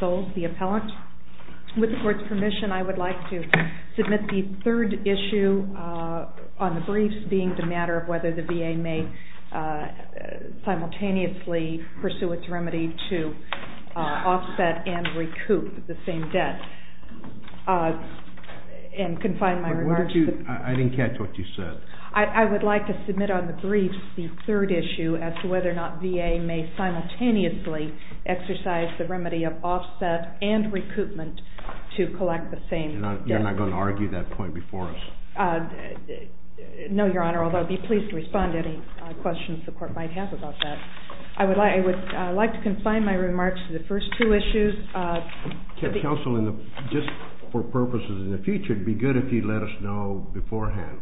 v. Appellant. With the court's permission, I would like to submit the third issue on the briefs, being the matter of whether the VA may simultaneously pursue its remedy to offset and recoup the same debt. And confine my remarks to the briefs. I didn't catch what you said. I would like to submit on the briefs the matter of whether or not VA may simultaneously exercise the remedy of offset and recoupment to collect the same debt. You're not going to argue that point before us? No, Your Honor, although I'd be pleased to respond to any questions the court might have about that. I would like to confine my remarks to the first two issues. Counsel, just for purposes in the future, it would be good if you'd let us know beforehand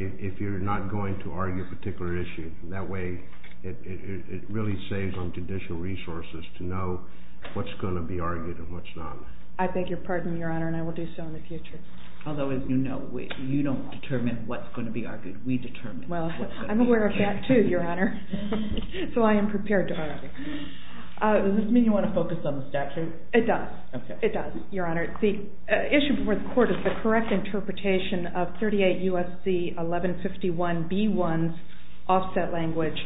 if you're not going to argue a particular issue. That way, it really saves on judicial resources to know what's going to be argued and what's not. I beg your pardon, Your Honor, and I will do so in the future. Although, as you know, you don't determine what's going to be argued. We determine what's going to be argued. Well, I'm aware of that, too, Your Honor. So I am prepared to argue. Does this mean you want to focus on the statute? It does. It does, Your Honor. The issue before me is offset language.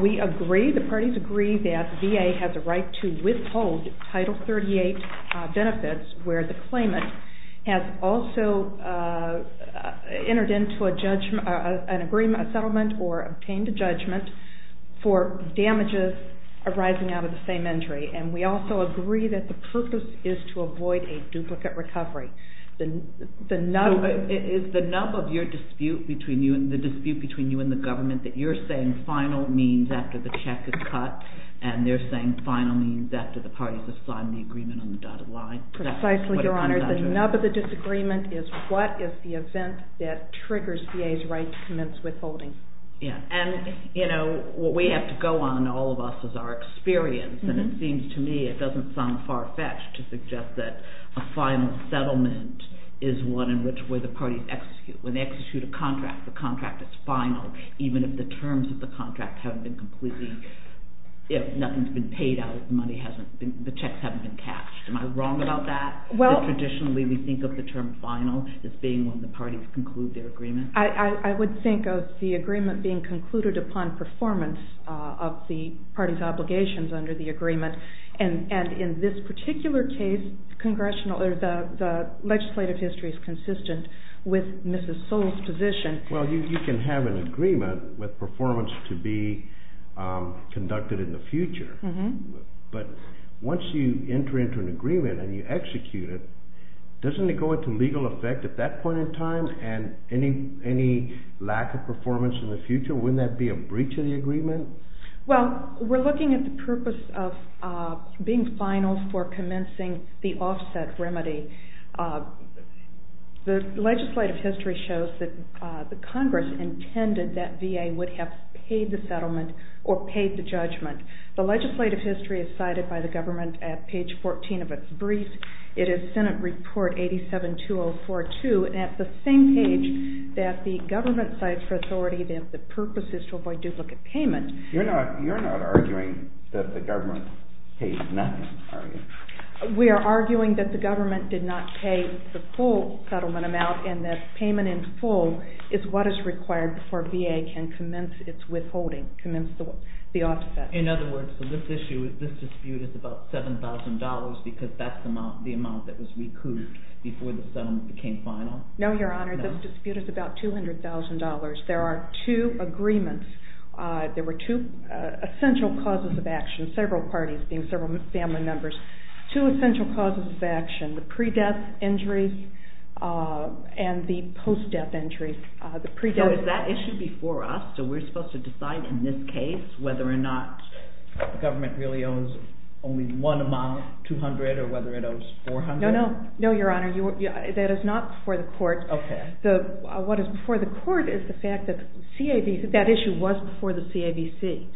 We agree, the parties agree, that VA has a right to withhold Title 38 benefits where the claimant has also entered into a settlement or obtained a judgment for damages arising out of the same injury. And we also agree that the purpose is to avoid a duplicate recovery. Is the nub of your dispute between you and the government that you're saying final means after the check is cut and they're saying final means after the parties have signed the agreement on the dotted line? Precisely, Your Honor. The nub of the disagreement is what is the event that triggers VA's right to commence withholding. Yeah. And, you know, what we have to go on, all of us, is our experience. And it seems to me, it doesn't sound far-fetched to suggest that a final settlement is one in which the parties execute. When they execute a contract, the contract is final, even if the terms of the contract haven't been completely, if nothing's been paid out, if the money hasn't been, the checks haven't been cashed. Am I wrong about that? Well... That traditionally we think of the term final as being when the parties conclude their agreement? I would think of the agreement being concluded upon performance of the parties' obligations under the agreement. And in this particular case, the legislative history is consistent with Mrs. Sowell's position. Well, you can have an agreement with performance to be conducted in the future, but once you enter into an agreement and you execute it, doesn't it go into legal effect at that point in time and any lack of performance in the future? Wouldn't that be a breach of the agreement? Well, we're looking at the purpose of being final for commencing the offset remedy. The legislative history shows that the Congress intended that VA would have paid the settlement or paid the judgment. The legislative history is cited by the government at page 14 of its brief. It is Senate Report 87-2042, and at the same page that the government cites for authority that the purpose is to avoid duplicate payment... We are arguing that the government did not pay the full settlement amount, and that payment in full is what is required before VA can commence its withholding, commence the offset. In other words, so this issue, this dispute is about $7,000 because that's the amount that was recouped before the settlement became final? No, Your Honor, this dispute is about $200,000. There are two agreements. There were two essential causes of action, several parties being several family members. Two essential causes of action, the pre-death injuries and the post-death injuries. So is that issue before us, so we're supposed to decide in this case whether or not the government really owes only one amount, $200,000, or whether it owes $400,000? No, Your Honor, that is not before the court. Okay. What is before the court is the fact that that issue was before the CAVC,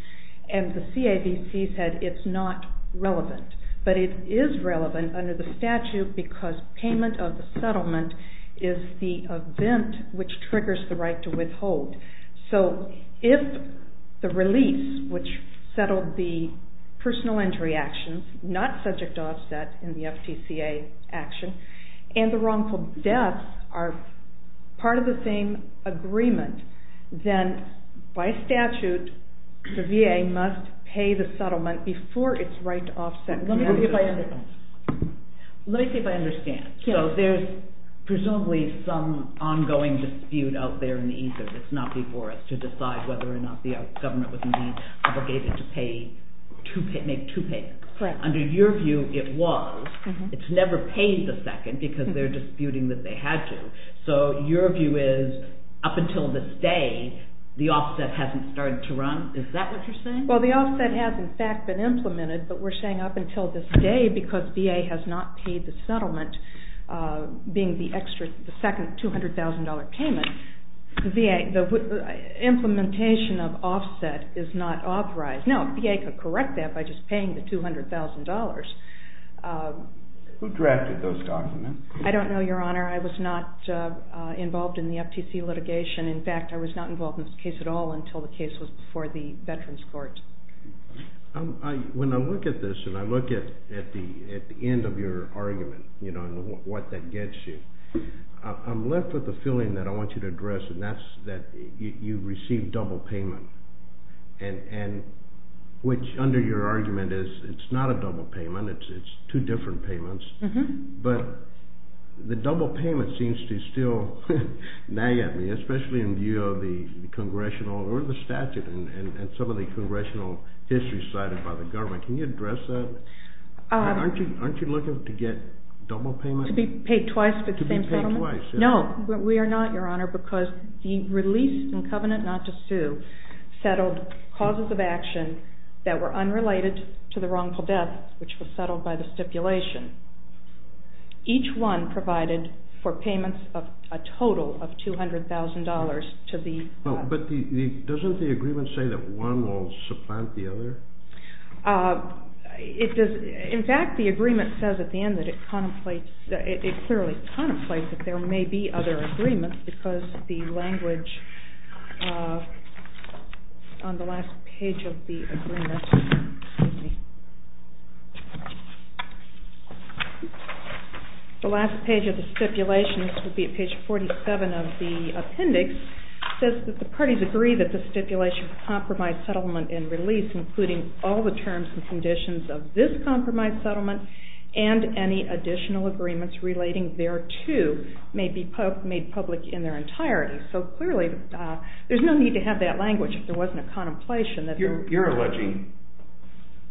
and the CAVC said it's not relevant, but it is relevant under the statute because payment of the settlement is the event which triggers the right to withhold. So if the release, which settled the personal injury actions, not subject to offset in the FTCA action, and the wrongful deaths are part of the same agreement, then by statute the VA must pay the settlement before it's right to offset. Let me see if I understand. Let me see if I understand. Yes. So there's presumably some ongoing dispute out there in the ether that's not before us to decide whether or not the government was indeed obligated to make two payments. Correct. Under your view, it was. It's never paid the second because they're disputing that they had to. So your view is up until this day, the offset hasn't started to run. Is that what you're saying? Well, the offset has, in fact, been implemented, but we're saying up until this day because VA has not paid the settlement, being the second $200,000 payment, the implementation of offset is not authorized. No, VA could correct that by just paying the $200,000. Who drafted those documents? I don't know, Your Honor. I was not involved in the FTCA litigation. In fact, I was not involved in this case at all until the case was before the Veterans Court. When I look at this and I look at the end of your argument and what that gets you, I'm left with a feeling that I want you to address, and that's that you received double payment. Which, under your argument, is it's not a double payment. It's two different payments. But the double payment seems to still nag at me, especially in view of the congressional or the statute and some of the congressional history cited by the government. Can you address that? Aren't you looking to get double payment? To be paid twice for the same settlement? To be paid twice. No, we are not, Your Honor, because the release in covenant not to sue settled causes of action that were unrelated to the wrongful death, which was settled by the stipulation. Each one provided for payments of a total of $200,000 to the government. But doesn't the agreement say that one will supplant the other? In fact, the agreement says at the end that it clearly contemplates that there may be other agreements because the language on the last page of the agreement, excuse me, the last page of the stipulation, this would be at page 47 of the appendix, says that the parties agree that the stipulation compromise settlement and release including all the terms and conditions of this compromise settlement and any additional agreements relating thereto may be made public in their entirety. So clearly there's no need to have that language if there wasn't a contemplation. You're alleging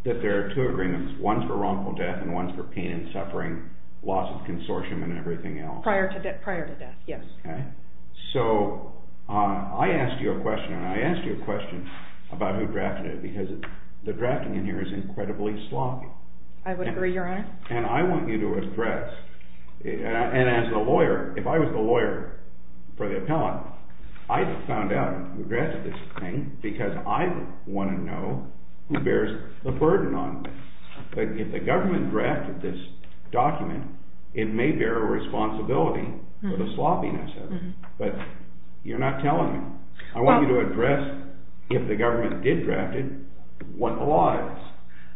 that there are two agreements, one for wrongful death and one for pain and suffering, loss of consortium and everything else. Prior to death, yes. So I asked you a question, and I asked you a question about who drafted it because the drafting in here is incredibly sloppy. I would agree, Your Honor. And I want you to address, and as a lawyer, if I was the lawyer for the appellant, I found out who drafted this thing because I want to know who bears the burden on me. But if the government drafted this document, it may bear a responsibility for the sloppiness of it. But you're not telling me. I want you to address if the government did draft it, what the law is.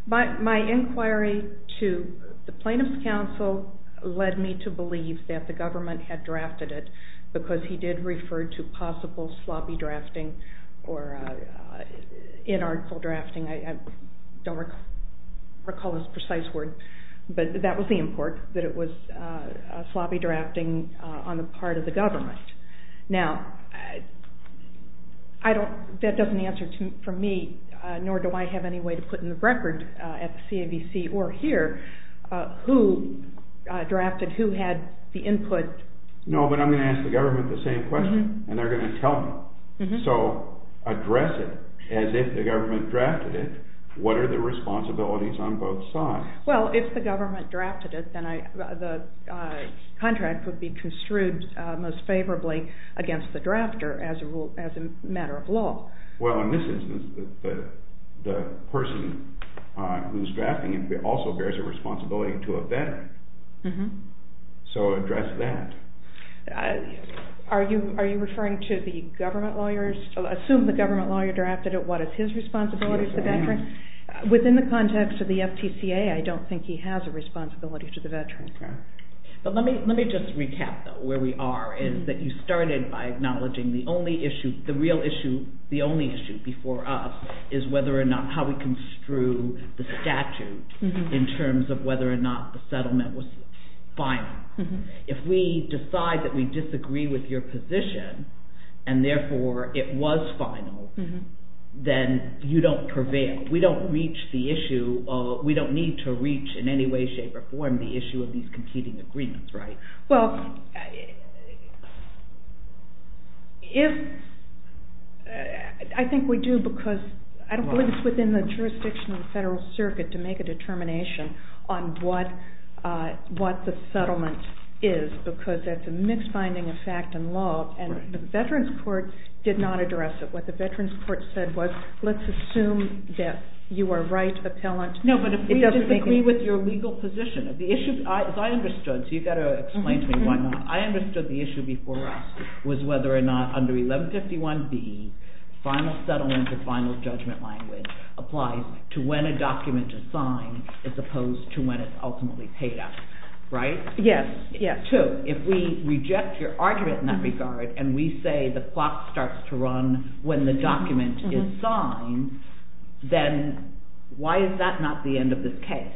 My inquiry to the Plaintiff's Counsel led me to believe that the government had drafted it because he did refer to possible sloppy drafting or inarticulate drafting. I don't recall his precise word, but that was the import, that it was sloppy drafting on the part of the government. Now, that doesn't answer for me, nor do I have any way to put in the record at the CAVC or here, who drafted, who had the input. No, but I'm going to ask the government the same question, and they're going to tell me. So address it as if the government drafted it. What are the responsibilities on both sides? Well, if the government drafted it, then the contract would be construed most favorably against the drafter as a matter of law. Well, in this instance, the person who's drafting it also bears a responsibility to a veteran. So address that. Are you referring to the government lawyers? Assume the government lawyer drafted it. What is his responsibility to the veteran? Within the context of the FTCA, I don't think he has a responsibility to the veteran. But let me just recap, though, where we are. You started by acknowledging the only issue, the real issue, the only issue before us is whether or not how we construe the statute in terms of whether or not the settlement was final. If we decide that we disagree with your position, and therefore it was final, then you don't prevail. We don't reach the issue. We don't need to reach in any way, shape, or form the issue of these competing agreements, right? Well, I think we do, because I don't believe it's within the jurisdiction of the Federal Circuit to make a determination on what the settlement is, because that's a mixed finding of fact and law, and the Veterans Court did not address it. What the Veterans Court said was, let's assume that you are right, appellant. No, but if we disagree with your legal position, the issue, as I understood, so you've got to explain to me why not. I understood the issue before us was whether or not under 1151B, final settlement or final judgment language applies to when a document is signed as opposed to when it's ultimately paid out, right? Yes, yes. So if we reject your argument in that regard, and we say the clock starts to run when the document is signed, then why is that not the end of the case?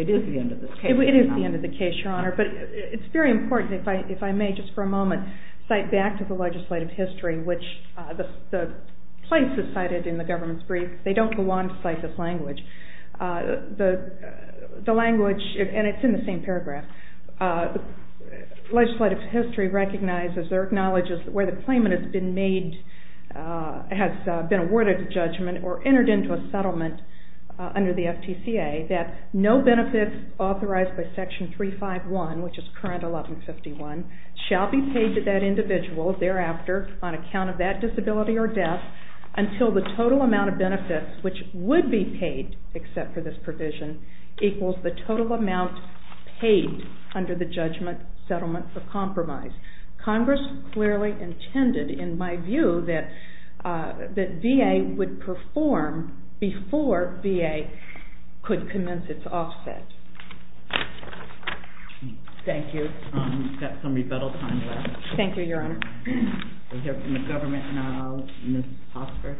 It is the end of the case. It is the end of the case, Your Honor, but it's very important, if I may just for a moment, cite back to the legislative history, which the place is cited in the government's brief. The language, and it's in the same paragraph, legislative history recognizes or acknowledges where the claimant has been awarded a judgment or entered into a settlement under the FTCA that no benefits authorized by Section 351, which is current 1151, shall be paid to that individual thereafter on account of that disability or death until the total amount of benefits, which would be paid except for this provision, equals the total amount paid under the judgment settlement for compromise. Congress clearly intended, in my view, that VA would perform before VA could commence its offset. Thank you. We've got some rebuttal time left. Thank you, Your Honor. We'll hear from the government now. Ms. Hossford.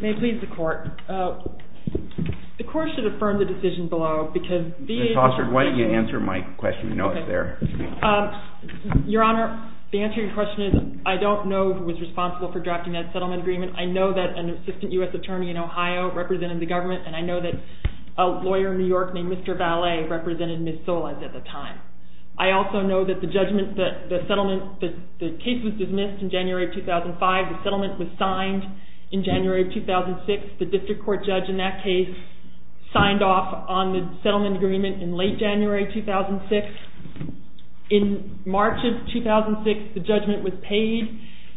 May it please the Court. The Court should affirm the decision below because VA... Ms. Hossford, why don't you answer my question? You know it's there. Your Honor, the answer to your question is I don't know who was responsible for drafting that settlement agreement. I know that an assistant U.S. attorney in Ohio represented the government, and I know that a lawyer in New York named Mr. Vallee represented Ms. Solis at the time. I also know that the judgment, the settlement, the case was dismissed in January 2005. The settlement was signed in January 2006. The district court judge in that case signed off on the settlement agreement in late January 2006. In March of 2006, the judgment was paid,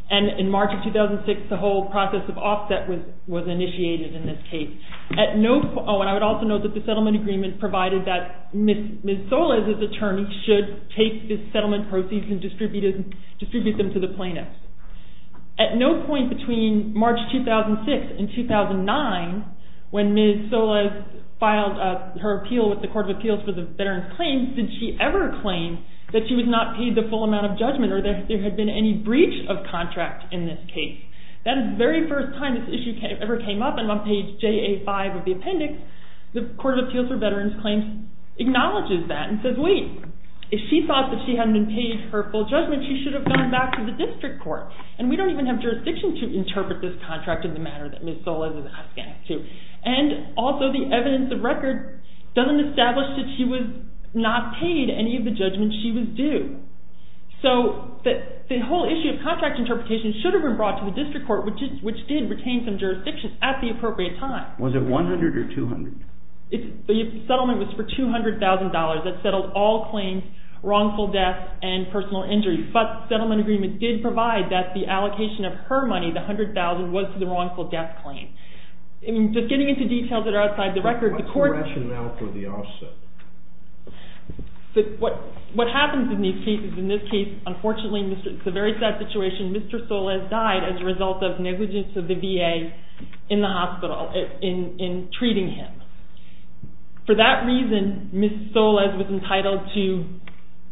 and in March of 2006, the whole process of offset was initiated in this case. I would also note that the settlement agreement provided that Ms. Solis, as an attorney, should take the settlement proceeds and distribute them to the plaintiffs. At no point between March 2006 and 2009, when Ms. Solis filed her appeal with the Court of Appeals for the Veterans Claims, did she ever claim that she was not paid the full amount of judgment or that there had been any breach of contract in this case. That is the very first time this issue ever came up, and on page JA5 of the appendix, the Court of Appeals for the Veterans Claims acknowledges that and says, wait, if she thought that she hadn't been paid her full judgment, she should have gone back to the district court. And we don't even have jurisdiction to interpret this contract in the manner that Ms. Solis is obliged to. And also, the evidence of record doesn't establish that she was not paid any of the judgments she was due. So the whole issue of contract interpretation should have been brought to the district court, which did retain some jurisdiction at the appropriate time. Was it $100,000 or $200,000? The settlement was for $200,000. That settled all claims, wrongful death and personal injury. But the settlement agreement did provide that the allocation of her money, the $100,000, was to the wrongful death claim. Just getting into details that are outside the record, the court… What's the rationale for the offset? What happens in these cases, in this case, unfortunately, it's a very sad situation, Mr. Solis died as a result of negligence of the VA in the hospital, in treating him. For that reason, Ms. Solis was entitled to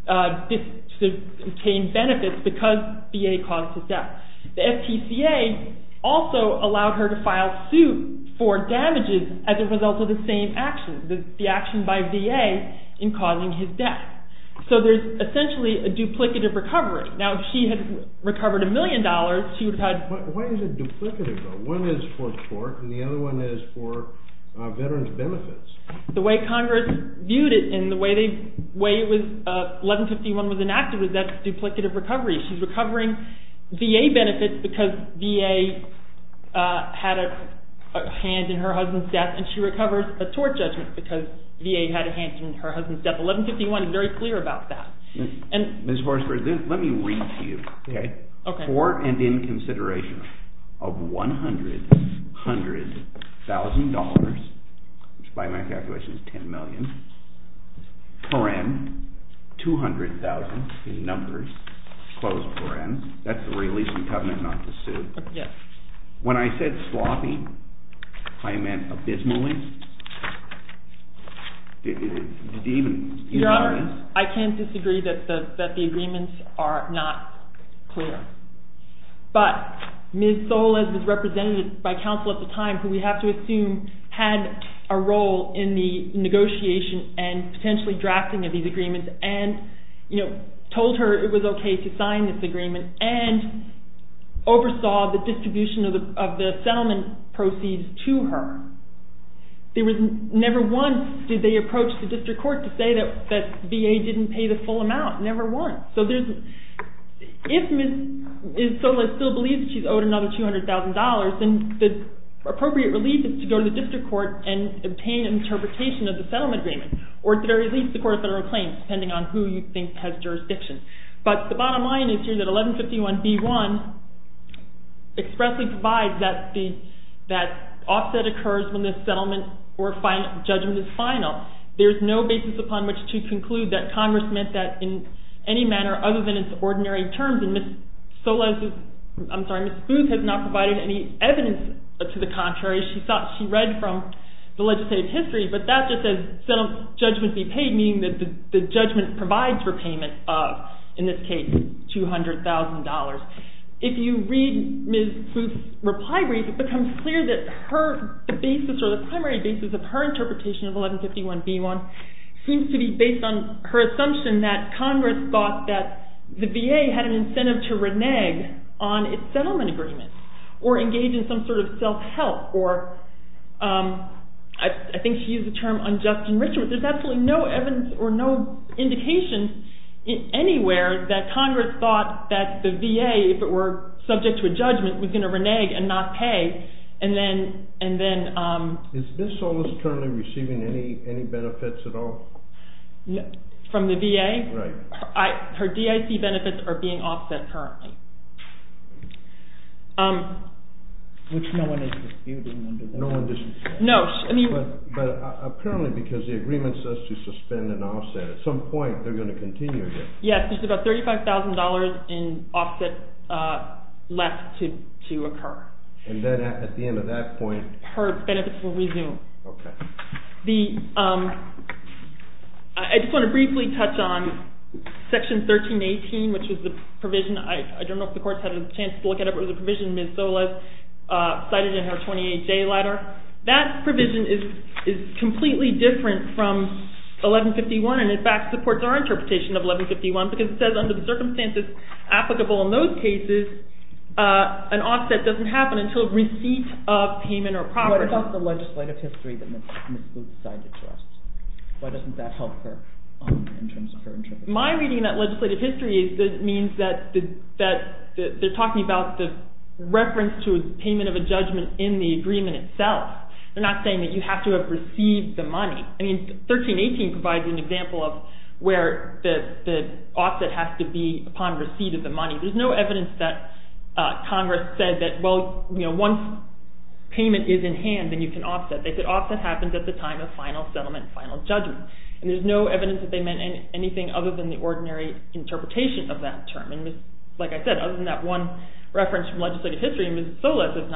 obtain benefits because VA caused the death. The FTCA also allowed her to file suit for damages as a result of the same action, the action by VA in causing his death. So there's essentially a duplicative recovery. Now, if she had recovered a million dollars, she would have had… Why is it duplicative? One is for tort and the other one is for veterans' benefits. The way Congress viewed it and the way 1151 was enacted was that duplicative recovery. She's recovering VA benefits because VA had a hand in her husband's death and she recovers a tort judgment because VA had a hand in her husband's death. 1151 is very clear about that. Ms. Horsford, let me read to you. For and in consideration of $100,000, which by my calculations is $10 million, paren, $200,000 in numbers, close paren. That's the release from covenant not to sue. When I said sloppy, I meant abysmally. Your Honor, I can't disagree that the agreements are not clear. But Ms. Solis was represented by counsel at the time who we have to assume had a role in the negotiation and potentially drafting of these agreements and told her it was okay to sign this agreement and oversaw the distribution of the settlement proceeds to her. Never once did they approach the district court to say that VA didn't pay the full amount. Never once. If Ms. Solis still believes she's owed another $200,000, then the appropriate relief is to go to the district court and obtain an interpretation of the settlement agreement or at the very least the court of federal claims depending on who you think has jurisdiction. But the bottom line is here that 1151B1 expressly provides that offset occurs when the settlement or judgment is final. There is no basis upon which to conclude that Congress meant that in any manner other than its ordinary terms. Ms. Booth has not provided any evidence to the contrary. She read from the legislative history, but that just says settlement judgment be paid, meaning that the judgment provides repayment of, in this case, $200,000. If you read Ms. Booth's reply brief, it becomes clear that the primary basis of her interpretation of 1151B1 seems to be based on her assumption that Congress thought that the VA had an incentive to renege on its settlement agreement or engage in some sort of self-help. I think she used the term unjust enrichment. There's absolutely no evidence or no indication anywhere that Congress thought that the VA, if it were subject to a judgment, was going to renege and not pay. Is Ms. Solis currently receiving any benefits at all? From the VA? Right. Her DIC benefits are being offset currently. Which no one is disputing under that? No. But apparently because the agreement says to suspend and offset, at some point they're going to continue this. Yes, there's about $35,000 in offset left to occur. And then at the end of that point? Her benefits will resume. Okay. I just want to briefly touch on Section 1318, which is the provision. I don't know if the courts had a chance to look it up. It was a provision Ms. Solis cited in her 28J letter. That provision is completely different from 1151 and, in fact, supports our interpretation of 1151 because it says under the circumstances applicable in those cases, an offset doesn't happen until receipt of payment or property. What about the legislative history that Ms. Solis cited to us? Why doesn't that help her in terms of her interpretation? My reading of that legislative history means that they're talking about the reference to payment of a judgment in the agreement itself. They're not saying that you have to have received the money. I mean, 1318 provides an example of where the offset has to be upon receipt of the money. There's no evidence that Congress said that, well, once payment is in hand, then you can offset. They said offset happens at the time of final settlement, final judgment. And there's no evidence that they meant anything other than the ordinary interpretation of that term. Like I said, other than that one reference from legislative history, Ms. Booth has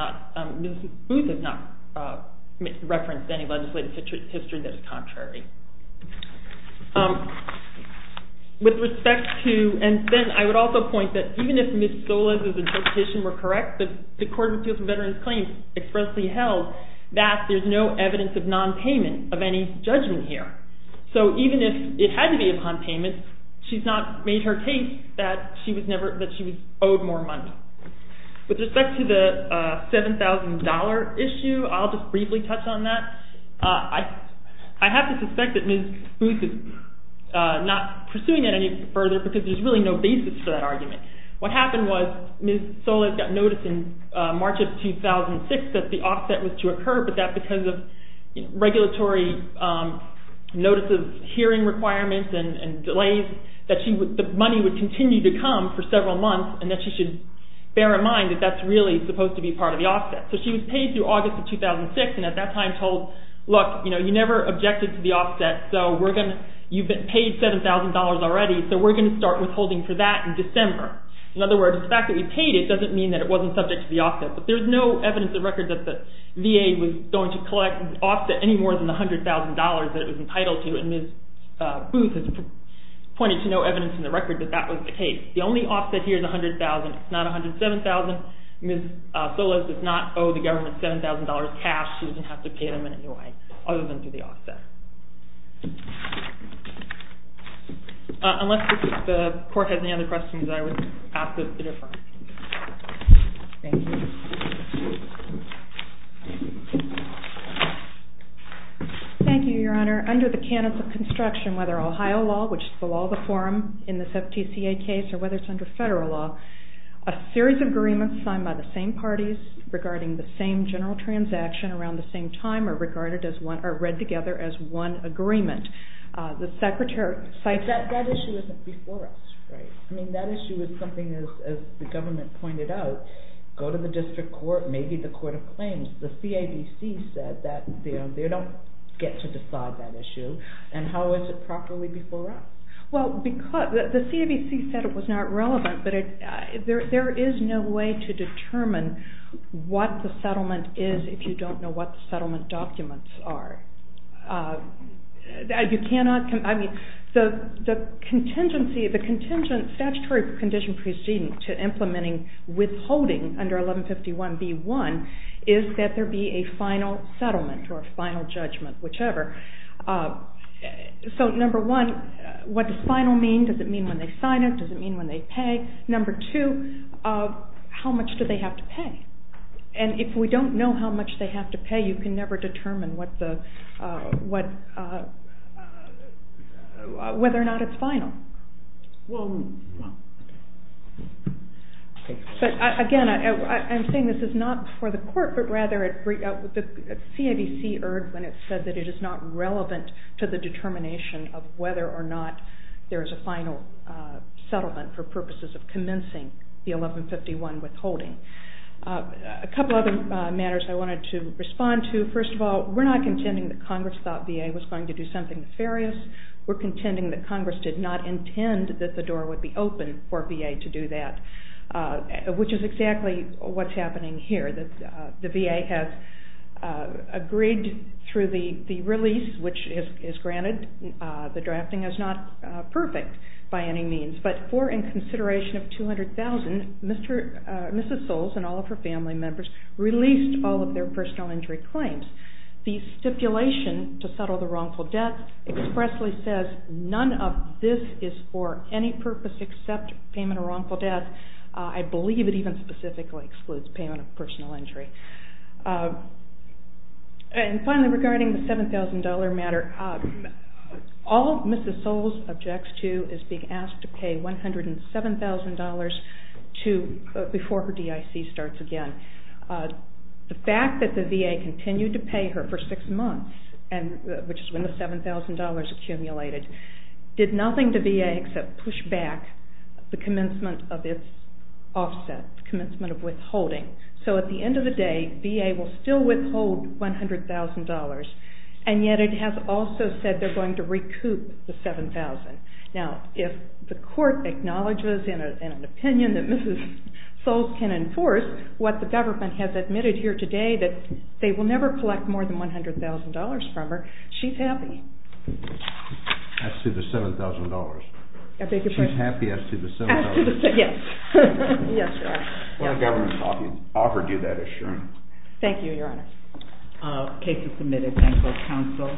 not referenced any legislative history that is contrary. With respect to, and then I would also point that even if Ms. Solis' interpretation were correct, the Court of Appeals for Veterans Claims expressly held that there's no evidence of nonpayment of any judgment here. So even if it had to be upon payment, she's not made her case that she was owed more money. With respect to the $7,000 issue, I'll just briefly touch on that. I have to suspect that Ms. Booth is not pursuing that any further because there's really no basis for that argument. What happened was Ms. Solis got notice in March of 2006 that the offset was to occur, but that because of regulatory notices, hearing requirements and delays, that the money would continue to come for several months and that she should bear in mind that that's really supposed to be part of the offset. So she was paid through August of 2006 and at that time told, look, you never objected to the offset, so you've paid $7,000 already, so we're going to start withholding for that in December. doesn't mean that it wasn't subject to the offset. But there's no evidence in the record that the VA was going to collect an offset any more than the $100,000 that it was entitled to, and Ms. Booth has pointed to no evidence in the record that that was the case. The only offset here is $100,000, not $107,000. Ms. Solis does not owe the government $7,000 cash. She doesn't have to pay them in any way other than through the offset. Unless the Court has any other questions, I will pass this to defer. Thank you. Thank you, Your Honor. Under the canons of construction, whether Ohio law, which is below the forum in this FTCA case, or whether it's under federal law, a series of agreements signed by the same parties regarding the same general transaction around the same time are read together as one agreement. That issue isn't before us, right? That issue is something, as the government pointed out, go to the District Court, maybe the Court of Claims. The CABC said that they don't get to decide that issue, and how is it properly before us? The CABC said it was not relevant, but there is no way to determine what the settlement is if you don't know what the settlement documents are. You cannot... I mean, the contingency, the statutory condition preceding to implementing withholding under 1151B1 is that there be a final settlement or a final judgment, whichever. So, number one, what does final mean? Does it mean when they sign it? Does it mean when they pay? Number two, how much do they have to pay? And if we don't know how much they have to pay, you can never determine whether or not it's final. But again, I'm saying this is not for the court, but rather the CABC erred when it said that it is not relevant to the determination of whether or not there is a final settlement for purposes of commencing the 1151 withholding. A couple of other matters I wanted to respond to. First of all, we're not contending that Congress thought VA was going to do something nefarious. We're contending that Congress did not intend that the door would be open for VA to do that, which is exactly what's happening here. The VA has agreed through the release, which is granted, the drafting is not perfect by any means. But for in consideration of $200,000, Mrs. Soles and all of her family members released all of their personal injury claims. The stipulation to settle the wrongful debt expressly says none of this is for any purpose except payment of wrongful debt. I believe it even specifically excludes payment of personal injury. And finally, regarding the $7,000 matter, all Mrs. Soles objects to is being asked to pay $107,000 before her DIC starts again. The fact that the VA continued to pay her for six months, which is when the $7,000 accumulated, did nothing to VA except push back the commencement of its offset, the commencement of withholding. So at the end of the day, VA will still withhold $100,000, and yet it has also said they're going to recoup the $7,000. Now, if the court acknowledges in an opinion that Mrs. Soles can enforce what the government has admitted here today, that they will never collect more than $100,000 from her, she's happy. As to the $7,000? She's happy as to the $7,000? As to the $7,000, yes. Yes, Your Honor. Well, the government offered you that assurance. Thank you, Your Honor. The case is submitted. Thank you, counsel.